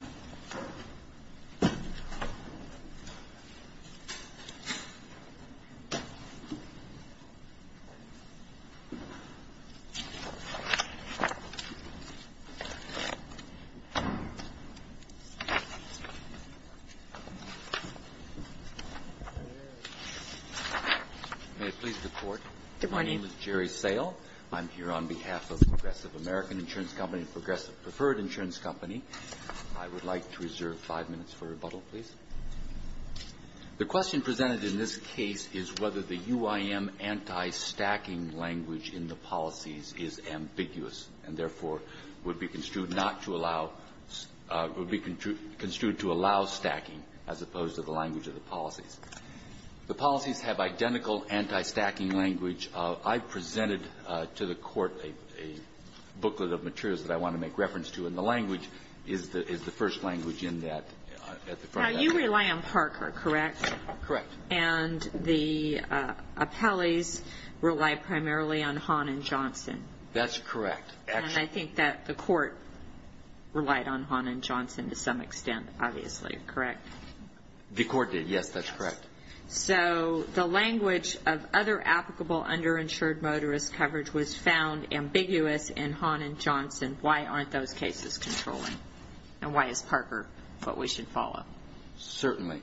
May it please the Court, my name is Jerry Sale. I'm here on behalf of Progressive American Preferred Insurance Company. I would like to reserve five minutes for rebuttal, please. The question presented in this case is whether the UIM anti-stacking language in the policies is ambiguous and therefore would be construed not to allow would be construed to allow stacking as opposed to the language of the policies. The policies have identical anti-stacking language. I presented to the Court a booklet of materials that I want to make reference to, and the language is the first language in that. Now, you rely on Parker, correct? Correct. And the appellees rely primarily on Hahn and Johnson? That's correct. And I think that the Court relied on Hahn and Johnson to some extent, obviously, correct? The Court did, yes, that's correct. So the language of other applicable underinsured motorist coverage was found ambiguous in Hahn and Johnson. Why aren't those cases controlling? And why is Parker what we should follow? Certainly.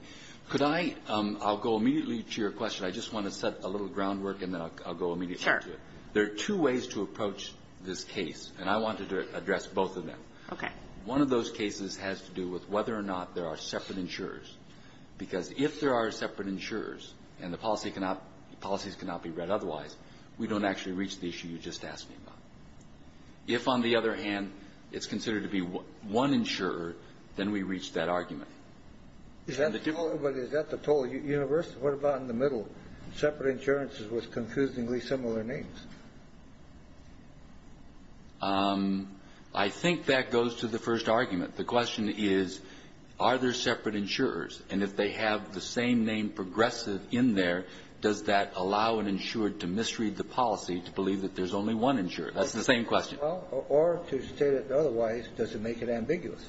Could I, I'll go immediately to your question. I just want to set a little groundwork and then I'll go immediately to it. Sure. There are two ways to approach this case, and I wanted to address both of them. Okay. One of those cases has to do with whether or not there are separate insurers, because if there are separate insurers and the policy cannot, policies cannot be read otherwise, we don't actually reach the issue you just asked me about. If, on the other hand, it's considered to be one insurer, then we reach that argument. Is that the total universe? What about in the middle, separate insurances with confusingly similar names? I think that goes to the first argument. The question is, are there separate insurers? And if they have the same name, progressive, in there, does that allow an insured to misread the policy to believe that there's only one insurer? That's the same question. Well, or to state it otherwise, does it make it ambiguous?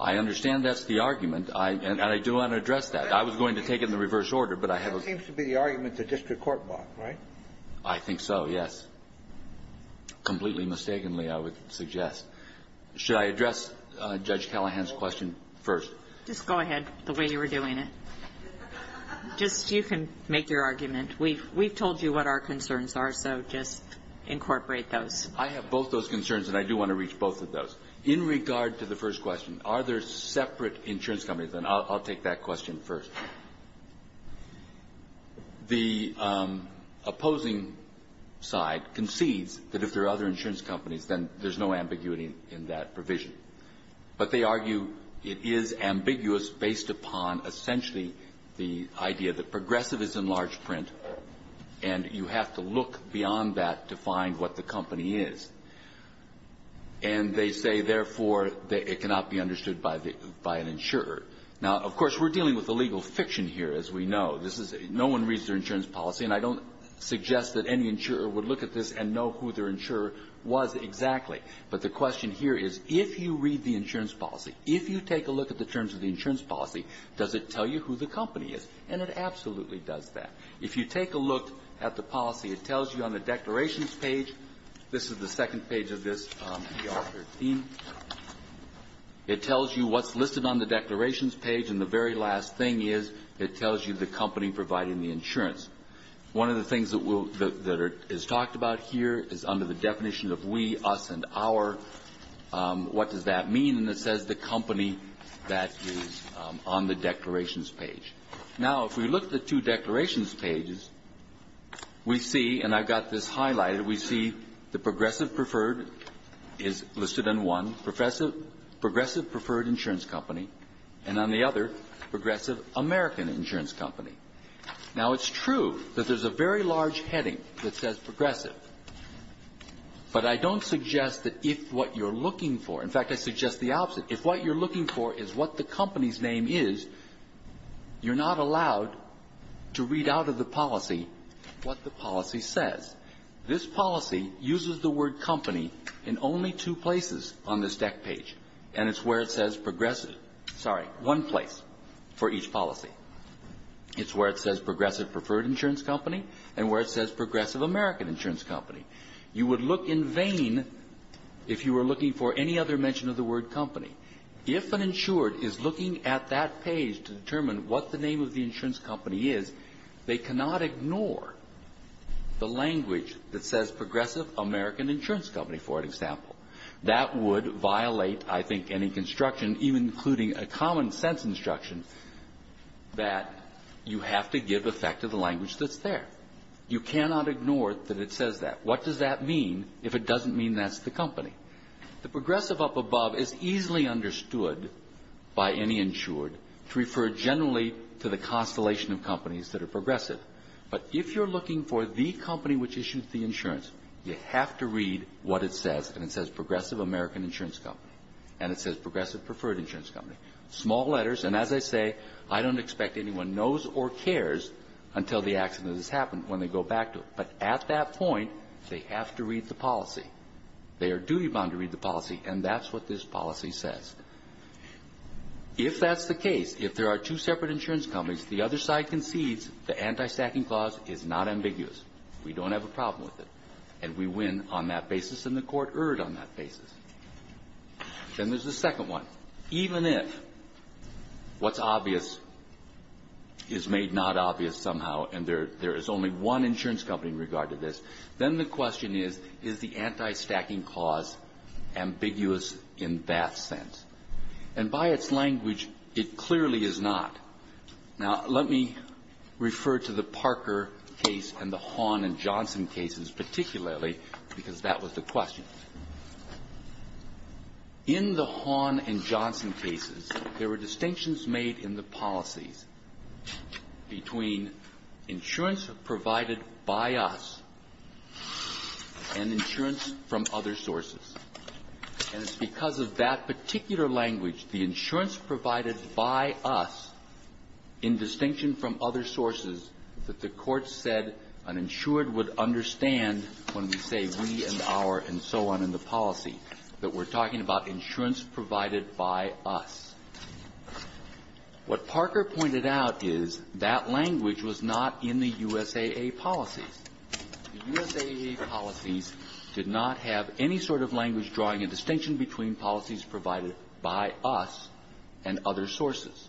I understand that's the argument. And I do want to address that. I was going to take it in the reverse order, but I have a question. That seems to be the argument the district court bought, right? I think so, yes. Completely mistakenly, I would suggest. Should I address Judge Callahan's question first? Just go ahead, the way you were doing it. Just, you can make your argument. We've told you what our concerns are, so just incorporate those. I have both those concerns, and I do want to reach both of those. In regard to the first question, are there separate insurance companies? And I'll take that question first. The opposing side concedes that if there are other insurance companies, then there's no ambiguity in that provision. But they argue it is ambiguous based upon essentially the idea that progressive is in large print, and you have to look beyond that to find what the company is. And they say, therefore, it cannot be understood by an insurer. Now, of course, we're dealing with the legal fiction here, as we know. This is no one reads their insurance policy, and I don't suggest that any insurer would look at this and know who their insurer was exactly. But the question here is, if you read the insurance policy, if you take a look at the terms of the insurance policy, does it tell you who the company is? And it absolutely does that. If you take a look at the policy, it tells you on the declarations page, this is the second page of this, DR 13. It tells you what's listed on the declarations page, and the very last thing is, it tells you the company providing the insurance. One of the things that is talked about here is under the definition of we, us, and our, what does that mean? And it says the company that is on the declarations page. Now, if we look at the two declarations pages, we see, and I've got this highlighted, we see the progressive preferred is listed on one, progressive preferred insurance company, and on the other, progressive American insurance company. Now, it's true that there's a very large heading that says progressive. But I don't suggest that if what you're looking for, in fact, I suggest the opposite. If what you're looking for is what the company's name is, you're not allowed to read out of the policy what the policy says. This policy uses the word company in only two places on this deck page, and it's where it says progressive. Sorry, one place for each policy. It's where it says progressive preferred insurance company, and where it says progressive American insurance company. You would look in vain if you were looking for any other mention of the word company. If an insured is looking at that page to determine what the name of the insurance company is, they cannot ignore the language that says progressive American insurance company, for an example. That would violate, I think, any construction, even including a common sense instruction, that you have to give effect to the language that's there. You cannot ignore that it says that. What does that mean if it doesn't mean that's the company? The progressive up above is easily understood by any insured to refer generally to the constellation of companies that are progressive. But if you're looking for the company which issues the insurance, you have to read what it says, and it says progressive American insurance company. And it says progressive preferred insurance company. Small letters, and as I say, I don't expect anyone knows or cares until the accident has happened, when they go back to it. But at that point, they have to read the policy. They are duty-bound to read the policy, and that's what this policy says. If that's the case, if there are two separate insurance companies, the other side concedes the anti-stacking clause is not ambiguous. We don't have a problem with it, and we win on that basis, and the Court erred on that basis. Then there's the second one. Even if what's obvious is made not obvious somehow, and there is only one insurance company in regard to this, then the question is, is the anti-stacking clause ambiguous in that sense? And by its language, it clearly is not. Now, let me refer to the Parker case and the Hawn and Johnson cases particularly, because that was the question. In the Hawn and Johnson cases, there were distinctions made in the policies between insurance provided by us and insurance from other sources. And it's because of that particular language, the insurance provided by us, in distinction from other sources, that the Court said an insured would understand when we say we and our and so on in the policy, that we're talking about insurance provided by us. What Parker pointed out is that language was not in the USAA policies. The USAA policies did not have any sort of language drawing a distinction between policies provided by us and other sources.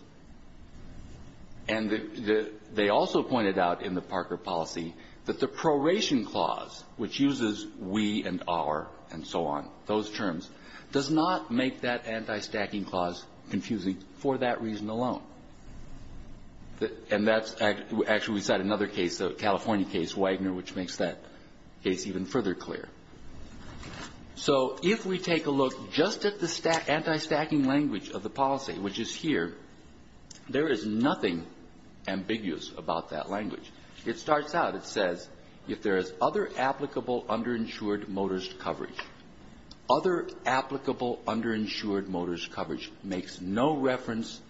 And they also pointed out in the Parker policy that the proration clause, which confuses we and our and so on, those terms, does not make that anti-stacking clause confusing for that reason alone. And that's actually another case, the California case, Wagner, which makes that case even further clear. So if we take a look just at the anti-stacking language of the policy, which is here, there is nothing ambiguous about that language. It starts out, it says, if there is other applicable underinsured motorist coverage. Other applicable underinsured motorist coverage makes no reference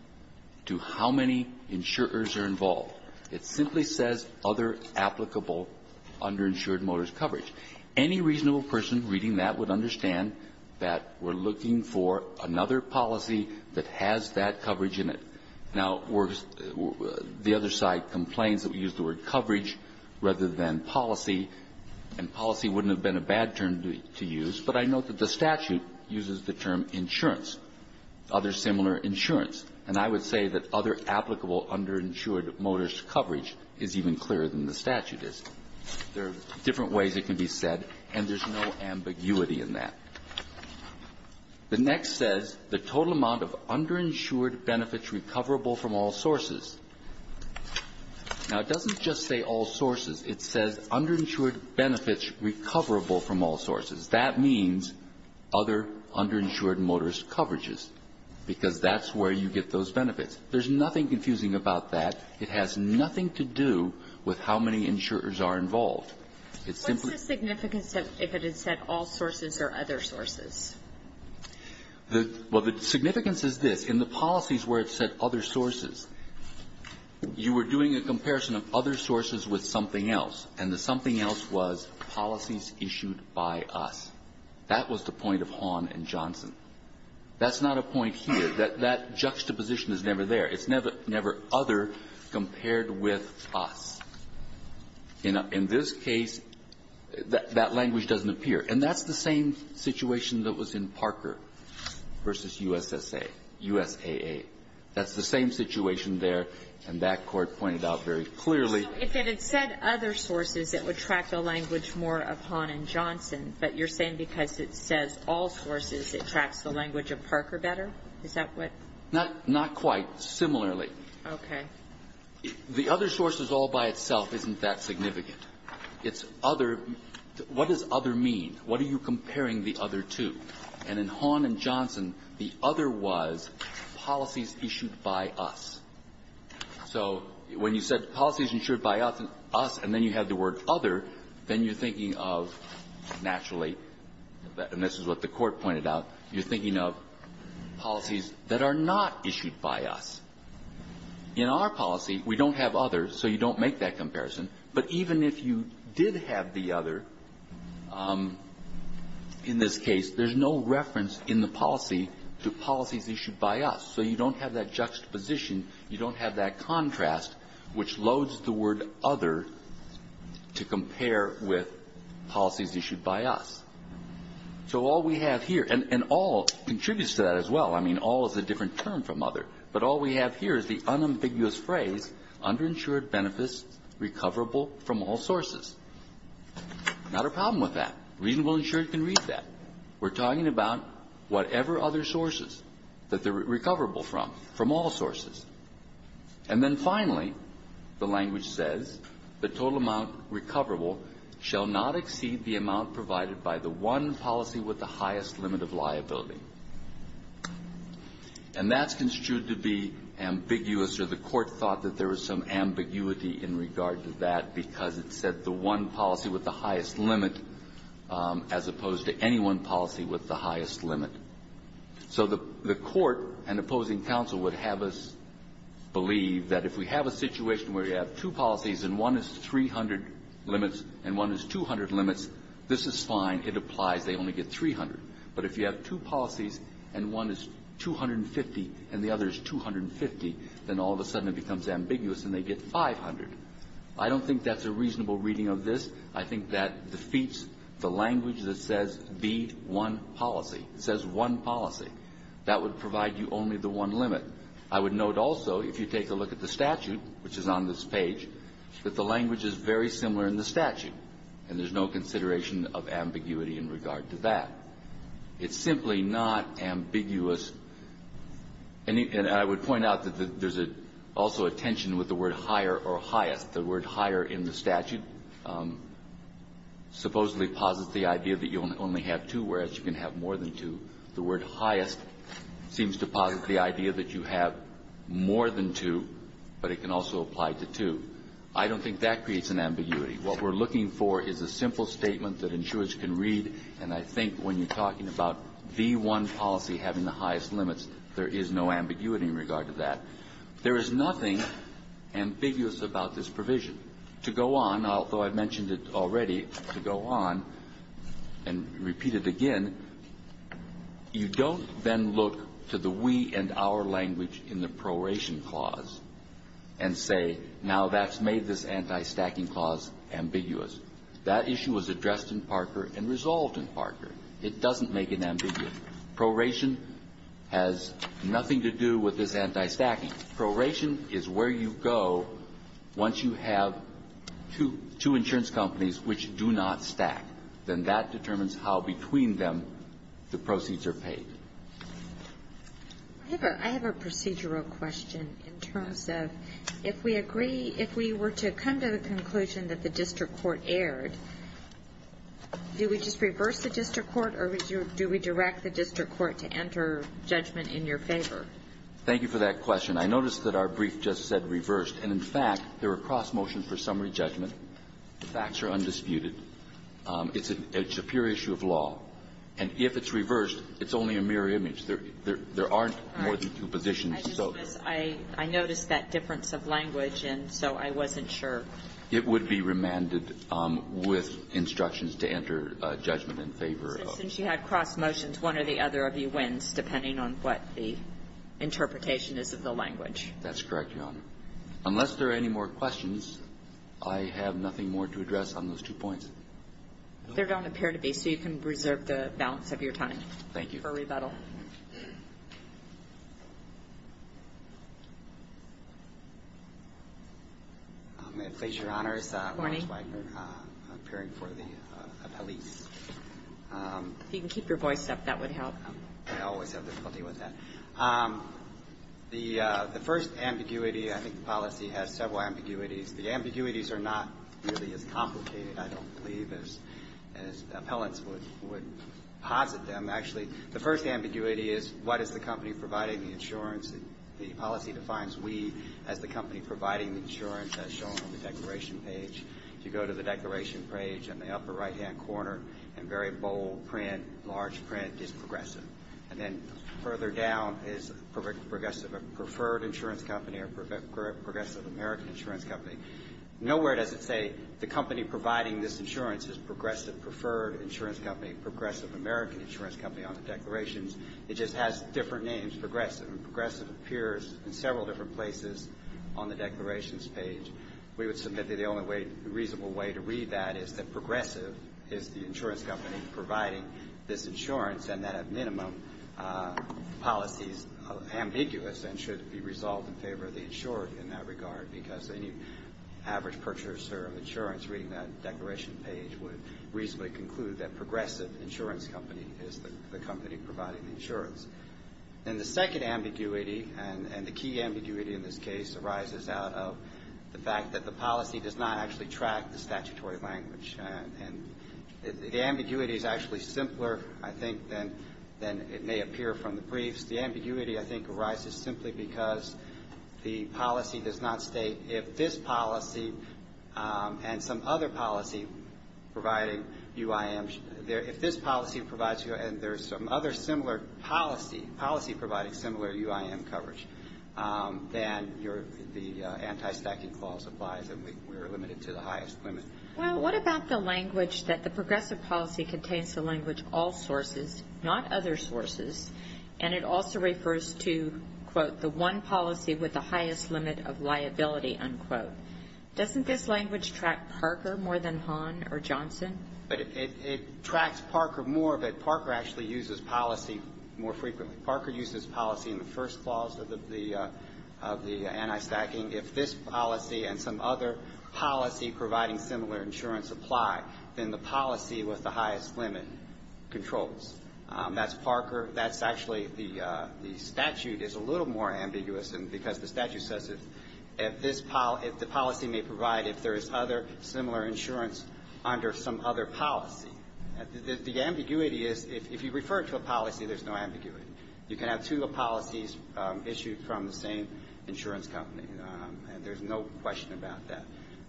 to how many insurers are involved. It simply says other applicable underinsured motorist coverage. Any reasonable person reading that would understand that we're looking for another policy that has that coverage in it. Now, the other side complains that we use the word coverage rather than policy, and policy wouldn't have been a bad term to use. But I note that the statute uses the term insurance, other similar insurance. And I would say that other applicable underinsured motorist coverage is even clearer than the statute is. There are different ways it can be said, and there's no ambiguity in that. The next says, the total amount of underinsured benefits recoverable from all sources. Now, it doesn't just say all sources. It says underinsured benefits recoverable from all sources. That means other underinsured motorist coverages, because that's where you get those benefits. There's nothing confusing about that. It has nothing to do with how many insurers are involved. It simply ---- benefits recoverable from all sources or other sources? Well, the significance is this. In the policies where it said other sources, you were doing a comparison of other sources with something else, and the something else was policies issued by us. That was the point of Hahn and Johnson. That's not a point here. That juxtaposition is never there. It's never other compared with us. In this case, that language doesn't appear. And that's the same situation that was in Parker v. USSA, USAA. That's the same situation there, and that Court pointed out very clearly. So if it had said other sources, it would track the language more of Hahn and Johnson, but you're saying because it says all sources, it tracks the language of Parker better? Is that what ---- Not quite. Similarly. Okay. The other sources all by itself isn't that significant. It's other ---- what does other mean? What are you comparing the other to? And in Hahn and Johnson, the other was policies issued by us. So when you said policies issued by us, and then you have the word other, then you're of policies that are not issued by us. In our policy, we don't have other, so you don't make that comparison. But even if you did have the other, in this case, there's no reference in the policy to policies issued by us. So you don't have that juxtaposition. You don't have that contrast, which loads the word other to compare with policies issued by us. So all we have here, and all contributes to that as well. I mean, all is a different term from other. But all we have here is the unambiguous phrase, underinsured benefits recoverable from all sources. Not a problem with that. Reasonable insured can read that. We're talking about whatever other sources that they're recoverable from, from all sources. And then finally, the language says, the total amount recoverable shall not exceed the amount provided by the one policy with the highest limit of liability. And that's construed to be ambiguous, or the court thought that there was some ambiguity in regard to that, because it said the one policy with the highest limit, as opposed to any one policy with the highest limit. So the court and opposing counsel would have us believe that if we have a situation where you have two policies and one is 300 limits and one is 200 limits, this is fine. It applies. They only get 300. But if you have two policies and one is 250 and the other is 250, then all of a sudden it becomes ambiguous and they get 500. I don't think that's a reasonable reading of this. I think that defeats the language that says, be one policy. It says one policy. That would provide you only the one limit. I would note also, if you take a look at the statute, which is on this page, that the language is very similar in the statute, and there's no consideration of ambiguity in regard to that. It's simply not ambiguous. And I would point out that there's also a tension with the word higher or highest. The word higher in the statute supposedly posits the idea that you only have two, whereas you can have more than two. The word highest seems to posit the idea that you have more than two, but it can also apply to two. I don't think that creates an ambiguity. What we're looking for is a simple statement that insurers can read, and I think when you're talking about the one policy having the highest limits, there is no ambiguity in regard to that. There is nothing ambiguous about this provision. To go on, although I've mentioned it already, to go on and repeat it again, the You don't then look to the we and our language in the proration clause and say, now that's made this anti-stacking clause ambiguous. That issue was addressed in Parker and resolved in Parker. It doesn't make it ambiguous. Proration has nothing to do with this anti-stacking. Proration is where you go once you have two insurance companies which do not stack. Then that determines how between them the proceeds are paid. I have a procedural question in terms of if we agree, if we were to come to the conclusion that the district court erred, do we just reverse the district court or do we direct the district court to enter judgment in your favor? Thank you for that question. I noticed that our brief just said reversed, and in fact, there are cross motions for summary judgment. The facts are undisputed. It's a pure issue of law. And if it's reversed, it's only a mirror image. There aren't more than two positions. I noticed that difference of language, and so I wasn't sure. It would be remanded with instructions to enter judgment in favor of. Since you had cross motions, one or the other of you wins, depending on what the interpretation is of the language. That's correct, Your Honor. Unless there are any more questions, I have nothing more to address on those two points. They don't appear to be, so you can reserve the balance of your time for rebuttal. Thank you. May it please Your Honor, it's Lawrence Wagner, appearing for the police. If you can keep your voice up, that would help. I always have difficulty with that. The first ambiguity, I think the policy has several ambiguities. The ambiguities are not really as complicated, I don't believe, as appellants would posit them. Actually, the first ambiguity is what is the company providing the insurance? The policy defines we as the company providing the insurance, as shown on the declaration page. If you go to the declaration page in the upper right-hand corner, in very bold print, large print, it's progressive. And then further down is progressive preferred insurance company or progressive American insurance company. Nowhere does it say the company providing this insurance is progressive preferred insurance company, progressive American insurance company on the declarations. It just has different names, progressive. And progressive appears in several different places on the declarations page. We would submit that the only way, reasonable way to read that is that progressive is the insurance company providing this insurance, and that at minimum, the policy is ambiguous and should be resolved in favor of the insurer in that regard, because any average purchaser of insurance reading that declaration page would reasonably conclude that progressive insurance company is the company providing the insurance. And the second ambiguity and the key ambiguity in this case arises out of the fact that the policy does not actually track the statutory language. And the ambiguity is actually simpler, I think, than it may appear from the briefs. The ambiguity, I think, arises simply because the policy does not state if this policy and some other policy providing UIMs, if this policy provides you and there's some other similar policy, policy providing similar UIM coverage, then the anti-stacking clause applies and we're limited to the highest limit. Well, what about the language that the progressive policy contains the language all sources, not other sources, and it also refers to, quote, the one policy with the highest limit of liability, unquote. Doesn't this language track Parker more than Hahn or Johnson? But it tracks Parker more, but Parker actually uses policy more frequently. Parker uses policy in the first clause of the anti-stacking. If this policy and some other policy providing similar insurance apply, then the policy with the highest limit controls. That's Parker. That's actually the statute is a little more ambiguous because the statute says if this policy may provide if there is other similar insurance under some other policy. The ambiguity is if you refer to a policy, there's no ambiguity. You can have two policies issued from the same insurance company, and there's no question about that.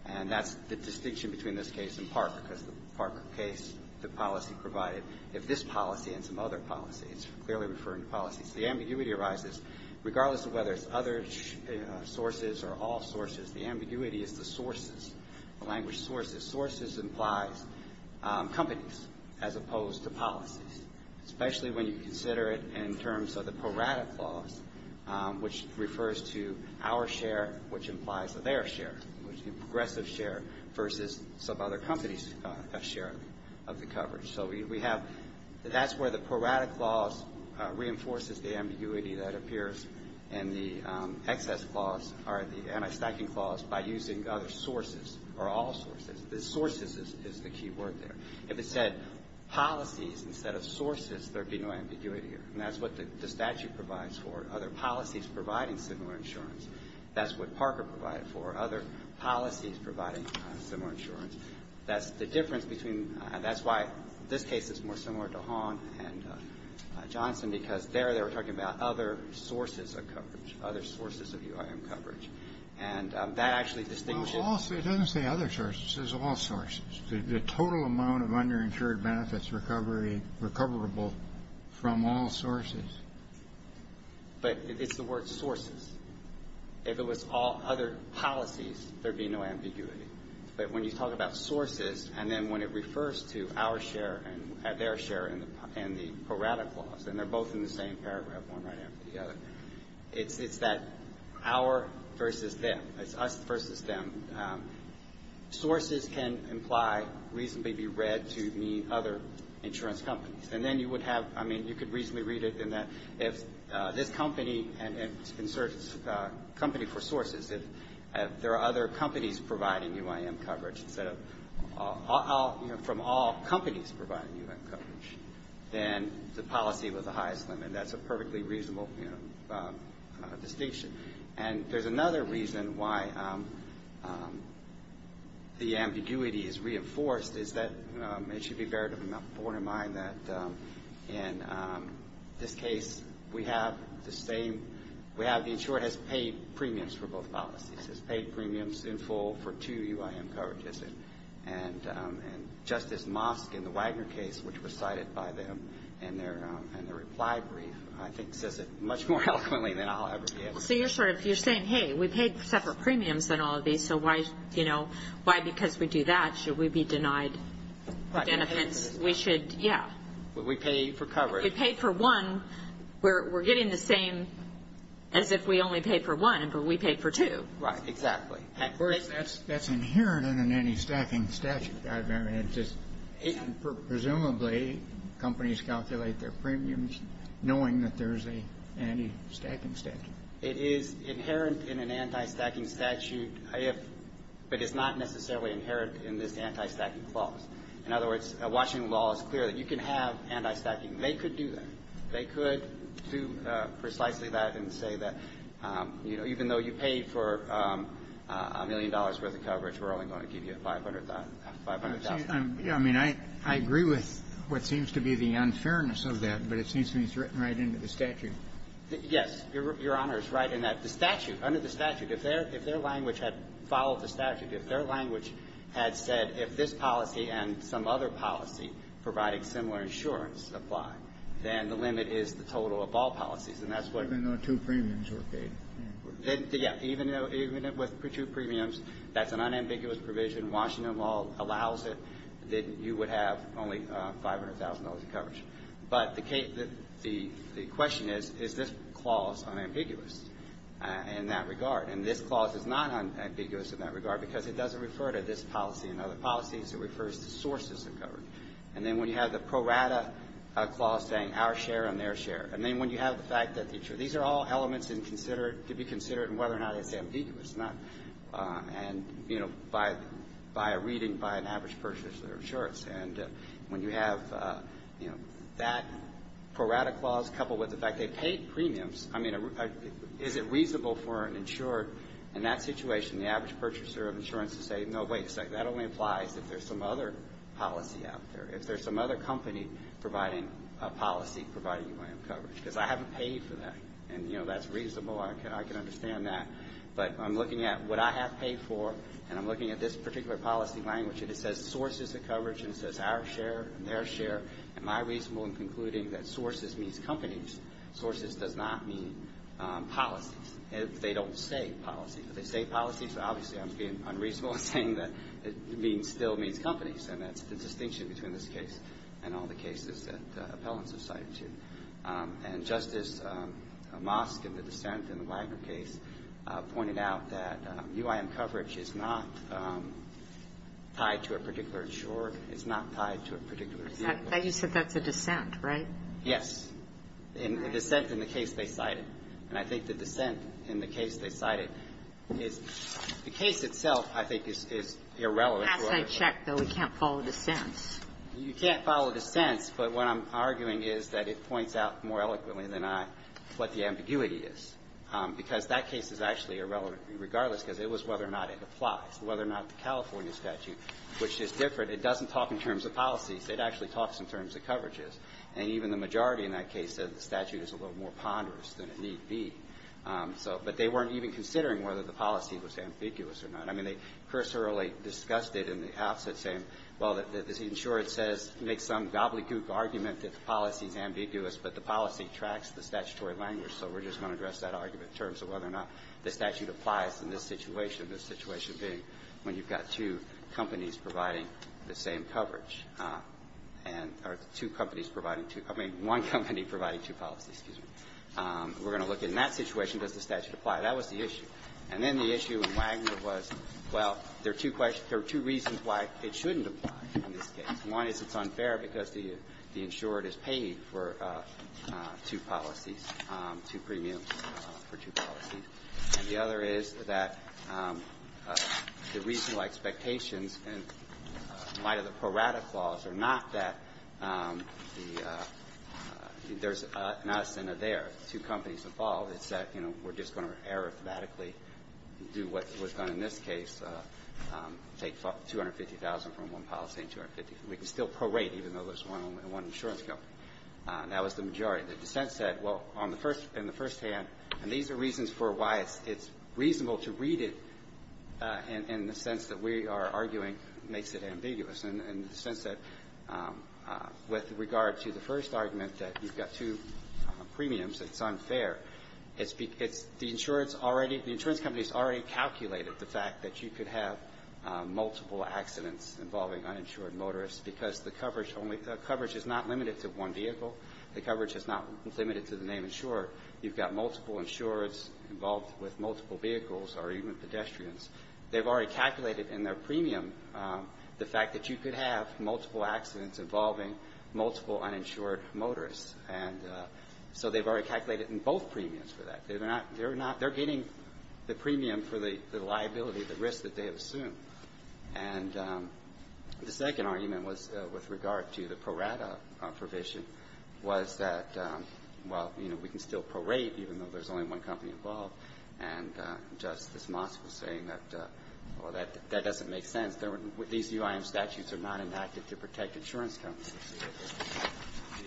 And that's the distinction between this case and Parker because the Parker case, the policy provided, if this policy and some other policy, it's clearly referring to policies. The ambiguity arises regardless of whether it's other sources or all sources. The ambiguity is the sources, the language sources. Sources implies companies as opposed to policies, especially when you consider it in terms of the pro-rata clause, which refers to our share, which implies their share, which is the progressive share versus some other company's share of the coverage. So we have, that's where the pro-rata clause reinforces the ambiguity that appears in the excess clause or the anti-stacking clause by using other sources or all sources. The sources is the key word there. If it said policies instead of sources, there would be no ambiguity. And that's what the statute provides for, other policies providing similar insurance. That's what Parker provided for, other policies providing similar insurance. That's the difference between, that's why this case is more similar to Hahn and Johnson because there they were talking about other sources of coverage, other sources of UIM coverage. And that actually distinguishes. It doesn't say other sources. It says all sources. The total amount of underinsured benefits recovery, recoverable from all sources. But it's the word sources. If it was all other policies, there would be no ambiguity. But when you talk about sources and then when it refers to our share and their share and the pro-rata clause, and they're both in the same paragraph, one right after the other, it's that our versus them. It's us versus them. Sources can imply, reasonably be read to mean other insurance companies. And then you would have, I mean, you could reasonably read it in that if this company and it's a company for sources, if there are other companies providing UIM coverage instead of, from all companies providing UIM coverage, then the policy was the highest limit. That's a perfectly reasonable distinction. And there's another reason why the ambiguity is reinforced is that it should be bared in mind that in this case we have the same, we have the insured has paid premiums for both policies. Has paid premiums in full for two UIM coverages. And Justice Mosk in the Wagner case, which was cited by them in their reply brief, I think says it much more eloquently than I'll ever be able to. So you're sort of, you're saying, hey, we paid separate premiums on all of these, so why, you know, why because we do that should we be denied benefits? We should, yeah. We pay for coverage. If we paid for one, we're getting the same as if we only paid for one, but we paid for two. Right, exactly. That's inherent in an anti-stacking statute. I mean, it's just, presumably companies calculate their premiums knowing that there's an anti-stacking statute. It is inherent in an anti-stacking statute, but it's not necessarily inherent in this anti-stacking clause. In other words, Washington law is clear that you can have anti-stacking. They could do that. They could do precisely that and say that, you know, even though you paid for a million dollars' worth of coverage, we're only going to give you $500,000. I mean, I agree with what seems to be the unfairness of that, but it seems to me it's written right into the statute. Yes. Your Honor is right in that the statute, under the statute, if their language had followed the statute, if their language had said if this policy and some other policy providing similar insurance apply, then the limit is the total of all policies, and that's what we're doing. Even though two premiums were paid. Yeah. Even with two premiums, that's an unambiguous provision. Washington law allows it that you would have only $500,000 of coverage. But the question is, is this clause unambiguous in that regard? And this clause is not unambiguous in that regard because it doesn't refer to this policy and other policies. It refers to sources of coverage. And then when you have the prorata clause saying our share and their share, and then when you have the fact that these are all elements to be considered and whether or not it's ambiguous, and, you know, by a reading by an average purchaser of insurance. And when you have, you know, that prorata clause coupled with the fact they paid premiums, I mean, is it reasonable for an insurer in that situation, the average purchaser of insurance, to say, no, wait a second, that only applies if there's some other policy out there. If there's some other company providing a policy providing UAM coverage. Because I haven't paid for that. And, you know, that's reasonable. I can understand that. But I'm looking at what I have paid for, and I'm looking at this particular policy language. And it says sources of coverage. And it says our share and their share. Am I reasonable in concluding that sources means companies? Sources does not mean policies. They don't say policy. But they say policy, so obviously I'm being unreasonable in saying that it still means companies. And that's the distinction between this case and all the cases that appellants have cited to. And Justice Amosk in the dissent in the Wagner case pointed out that UAM coverage is not tied to a particular insurer. It's not tied to a particular vehicle. I thought you said that's a dissent, right? Yes. A dissent in the case they cited. And I think the dissent in the case they cited is the case itself, I think, is irrelevant to other cases. It has to be checked, though. We can't follow dissents. You can't follow dissents, but what I'm arguing is that it points out more eloquently than I what the ambiguity is. Because that case is actually irrelevant regardless because it was whether or not it applies, whether or not the California statute, which is different, it doesn't talk in terms of policies. It actually talks in terms of coverages. And even the majority in that case said the statute is a little more ponderous than it need be. So, but they weren't even considering whether the policy was ambiguous or not. I mean, they cursorily discussed it in the outset saying, well, the insurer says make some gobbledygook argument that the policy is ambiguous, but the policy tracks the statutory language. So we're just going to address that argument in terms of whether or not the statute applies in this situation, the situation being when you've got two companies providing the same coverage. And or two companies providing two. I mean, one company providing two policies. Excuse me. We're going to look in that situation, does the statute apply? That was the issue. And then the issue in Wagner was, well, there are two questions or two reasons why it shouldn't apply in this case. One is it's unfair because the insurer is paid for two policies, two premiums for two policies. And the other is that the reasonable expectations in light of the Pro Rata clause are not that there's an us and a there. It's that, you know, we're just going to arithmetically do what was done in this case, take 250,000 from one policy and 250. We can still pro-rate even though there's one insurance company. That was the majority. The dissent said, well, on the first and the firsthand, and these are reasons for why it's reasonable to read it in the sense that we are arguing makes it ambiguous in the sense that with regard to the first argument that you've got two premiums it's unfair. The insurance company has already calculated the fact that you could have multiple accidents involving uninsured motorists because the coverage is not limited to one vehicle. The coverage is not limited to the name insurer. You've got multiple insurers involved with multiple vehicles or even pedestrians. They've already calculated in their premium the fact that you could have multiple accidents involving multiple uninsured motorists. And so they've already calculated in both premiums for that. They're getting the premium for the liability, the risk that they have assumed. And the second argument was with regard to the pro-rata provision was that, well, you know, we can still pro-rate even though there's only one company involved. And Justice Moss was saying that, well, that doesn't make sense. These UIM statutes are not enacted to protect insurance companies.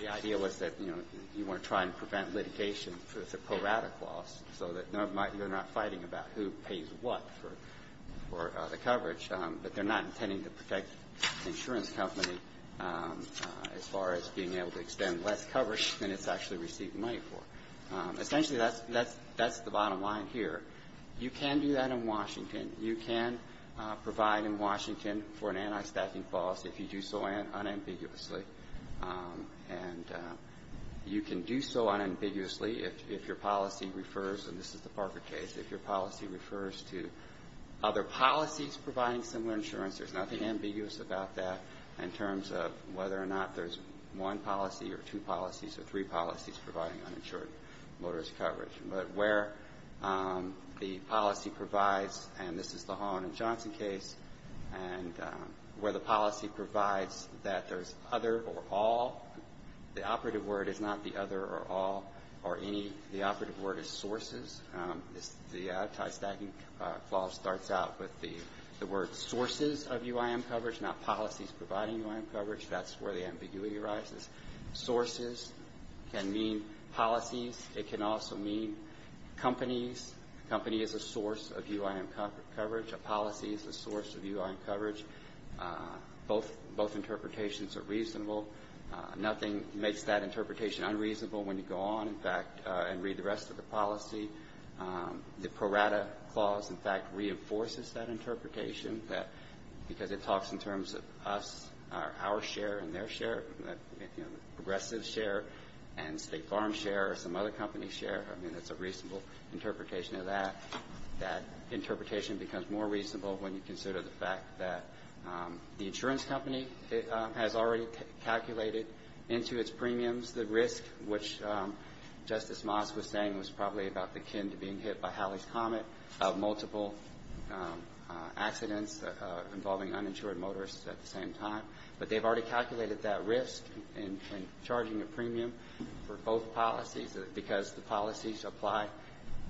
The idea was that, you know, you want to try and prevent litigation for the pro-rata clause so that you're not fighting about who pays what for the coverage. But they're not intending to protect the insurance company as far as being able to extend less coverage than it's actually receiving money for. Essentially, that's the bottom line here. You can do that in Washington. You can provide in Washington for an anti-stacking clause if you do so unambiguously. And you can do so unambiguously if your policy refers, and this is the Parker case, if your policy refers to other policies providing similar insurance. There's nothing ambiguous about that in terms of whether or not there's one policy or two policies or three policies providing uninsured motorist coverage. But where the policy provides, and this is the Holland & Johnson case, and where the policy provides that there's other or all, the operative word is not the other or all or any. The operative word is sources. The anti-stacking clause starts out with the word sources of UIM coverage, not policies providing UIM coverage. That's where the ambiguity arises. Sources can mean policies. It can also mean companies. A company is a source of UIM coverage. A policy is a source of UIM coverage. Both interpretations are reasonable. Nothing makes that interpretation unreasonable when you go on, in fact, and read the rest of the policy. The prorata clause, in fact, reinforces that interpretation because it talks in terms of us, our share and their share, progressive share and state farm share or some other company share. I mean, it's a reasonable interpretation of that. That interpretation becomes more reasonable when you consider the fact that the insurance company has already calculated into its premiums the risk, which Justice Moss was saying was probably about the kin to being hit by Halley's Comet of multiple accidents involving uninsured motorists at the same time. But they've already calculated that risk in charging a premium for both policies because the policies apply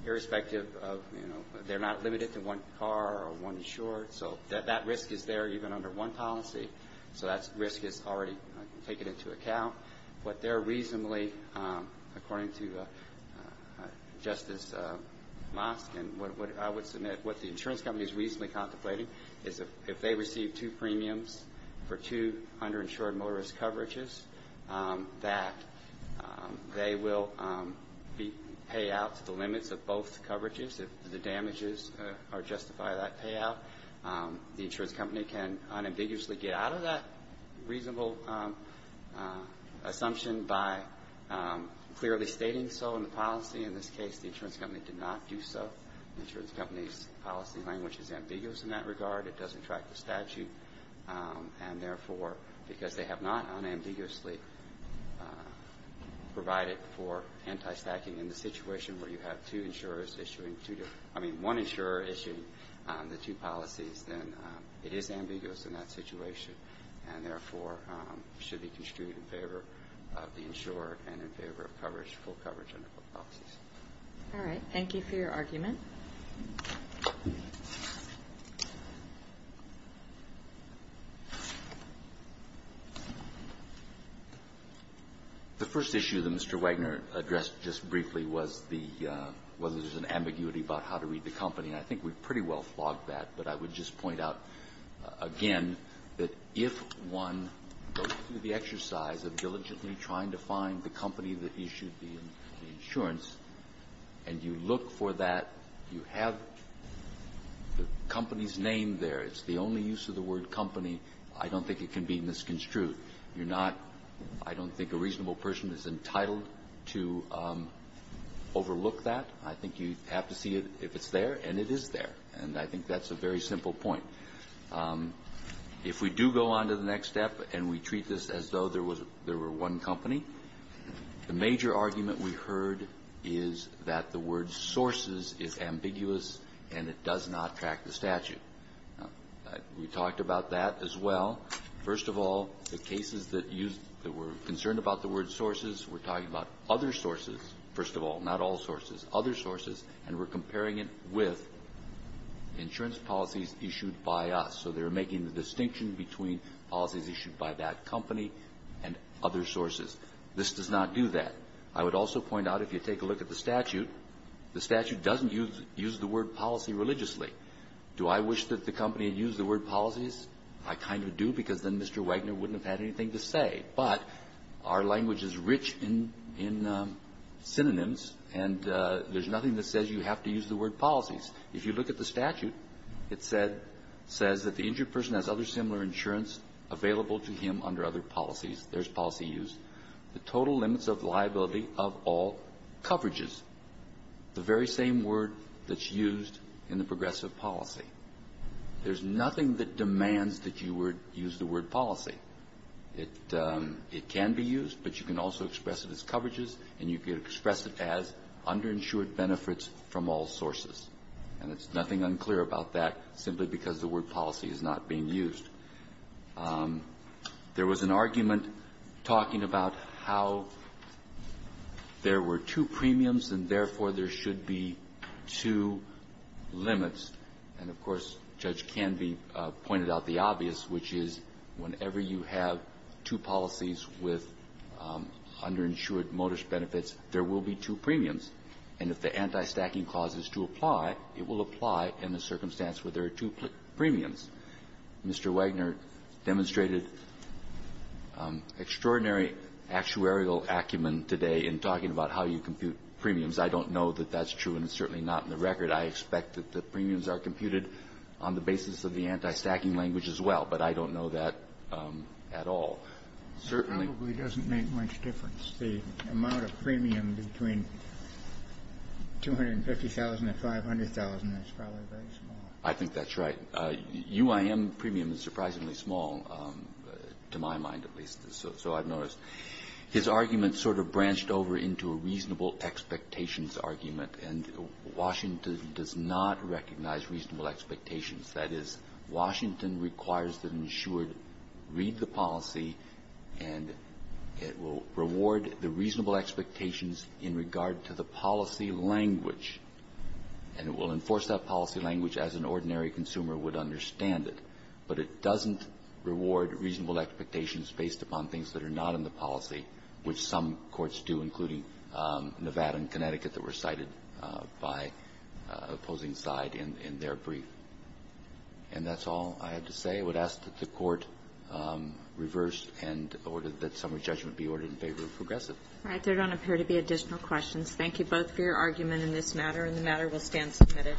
irrespective of, you know, they're not limited to one car or one insured. So that risk is there even under one policy. So that risk is already taken into account. What they're reasonably, according to Justice Moss and what I would submit, what the insurance company is reasonably contemplating is if they receive two premiums for two underinsured motorist coverages, that they will pay out to the limits of both coverages if the damages justify that payout. The insurance company can unambiguously get out of that reasonable assumption by clearly stating so in the policy. In this case, the insurance company did not do so. The insurance company's policy language is ambiguous in that regard. It doesn't track the statute. And therefore, because they have not unambiguously provided for anti-stacking in the situation where you have two insurers issuing two, I mean one insurer issuing the two policies, then it is ambiguous in that situation and therefore should be construed in favor of the insurer and in favor of coverage, full coverage under both policies. All right. Thank you for your argument. The first issue that Mr. Wagner addressed just briefly was the, whether there's an ambiguity about how to read the company. And I think we've pretty well flogged that. But I would just point out again that if one goes through the exercise of diligently trying to find the company that issued the insurance and you look for that, you have the company's name there. It's the only use of the word company. I don't think it can be misconstrued. You're not – I don't think a reasonable person is entitled to overlook that. I think you have to see if it's there, and it is there. And I think that's a very simple point. If we do go on to the next step and we treat this as though there was – there were one company, the major argument we heard is that the word sources is ambiguous and it does not track the statute. We talked about that as well. First of all, the cases that used – that were concerned about the word sources, we're talking about other sources, first of all, not all sources, other sources, and we're comparing it with insurance policies issued by us. So they're making the distinction between policies issued by that company and other sources. This does not do that. I would also point out if you take a look at the statute, the statute doesn't use the word policy religiously. Do I wish that the company had used the word policies? I kind of do because then Mr. Wagner wouldn't have had anything to say. But our language is rich in – in synonyms, and there's nothing that says you have to use the word policies. If you look at the statute, it said – says that the injured person has other similar insurance available to him under other policies. There's policy use. The total limits of liability of all coverages, the very same word that's used in the progressive policy. There's nothing that demands that you use the word policy. It – it can be used, but you can also express it as coverages, and you can express it as underinsured benefits from all sources. And it's nothing unclear about that simply because the word policy is not being used. There was an argument talking about how there were two premiums, and therefore, there should be two limits. And of course, Judge Canby pointed out the obvious, which is whenever you have two policies with underinsured modus benefits, there will be two premiums. And if the anti-stacking clause is to apply, it will apply in the circumstance where there are two premiums. Mr. Wagner demonstrated extraordinary actuarial acumen today in talking about how you compute premiums. I don't know that that's true, and it's certainly not in the record. I expect that the premiums are computed on the basis of the anti-stacking language as well, but I don't know that at all. Certainly. It probably doesn't make much difference. The amount of premium between $250,000 and $500,000 is probably very small. I think that's right. UIM premium is surprisingly small, to my mind at least, so I've noticed. His argument sort of branched over into a reasonable expectations argument. And Washington does not recognize reasonable expectations. That is, Washington requires that insured read the policy, and it will reward the reasonable expectations in regard to the policy language. And it will enforce that policy language as an ordinary consumer would understand it, but it doesn't reward reasonable expectations based upon things that are not in the policy, which some courts do, including Nevada and Connecticut, that were cited by opposing side in their brief. And that's all I had to say. I would ask that the Court reverse and order that summary judgment be ordered in favor of Progressive. All right. There don't appear to be additional questions. Thank you both for your argument in this matter, and the matter will stand submitted.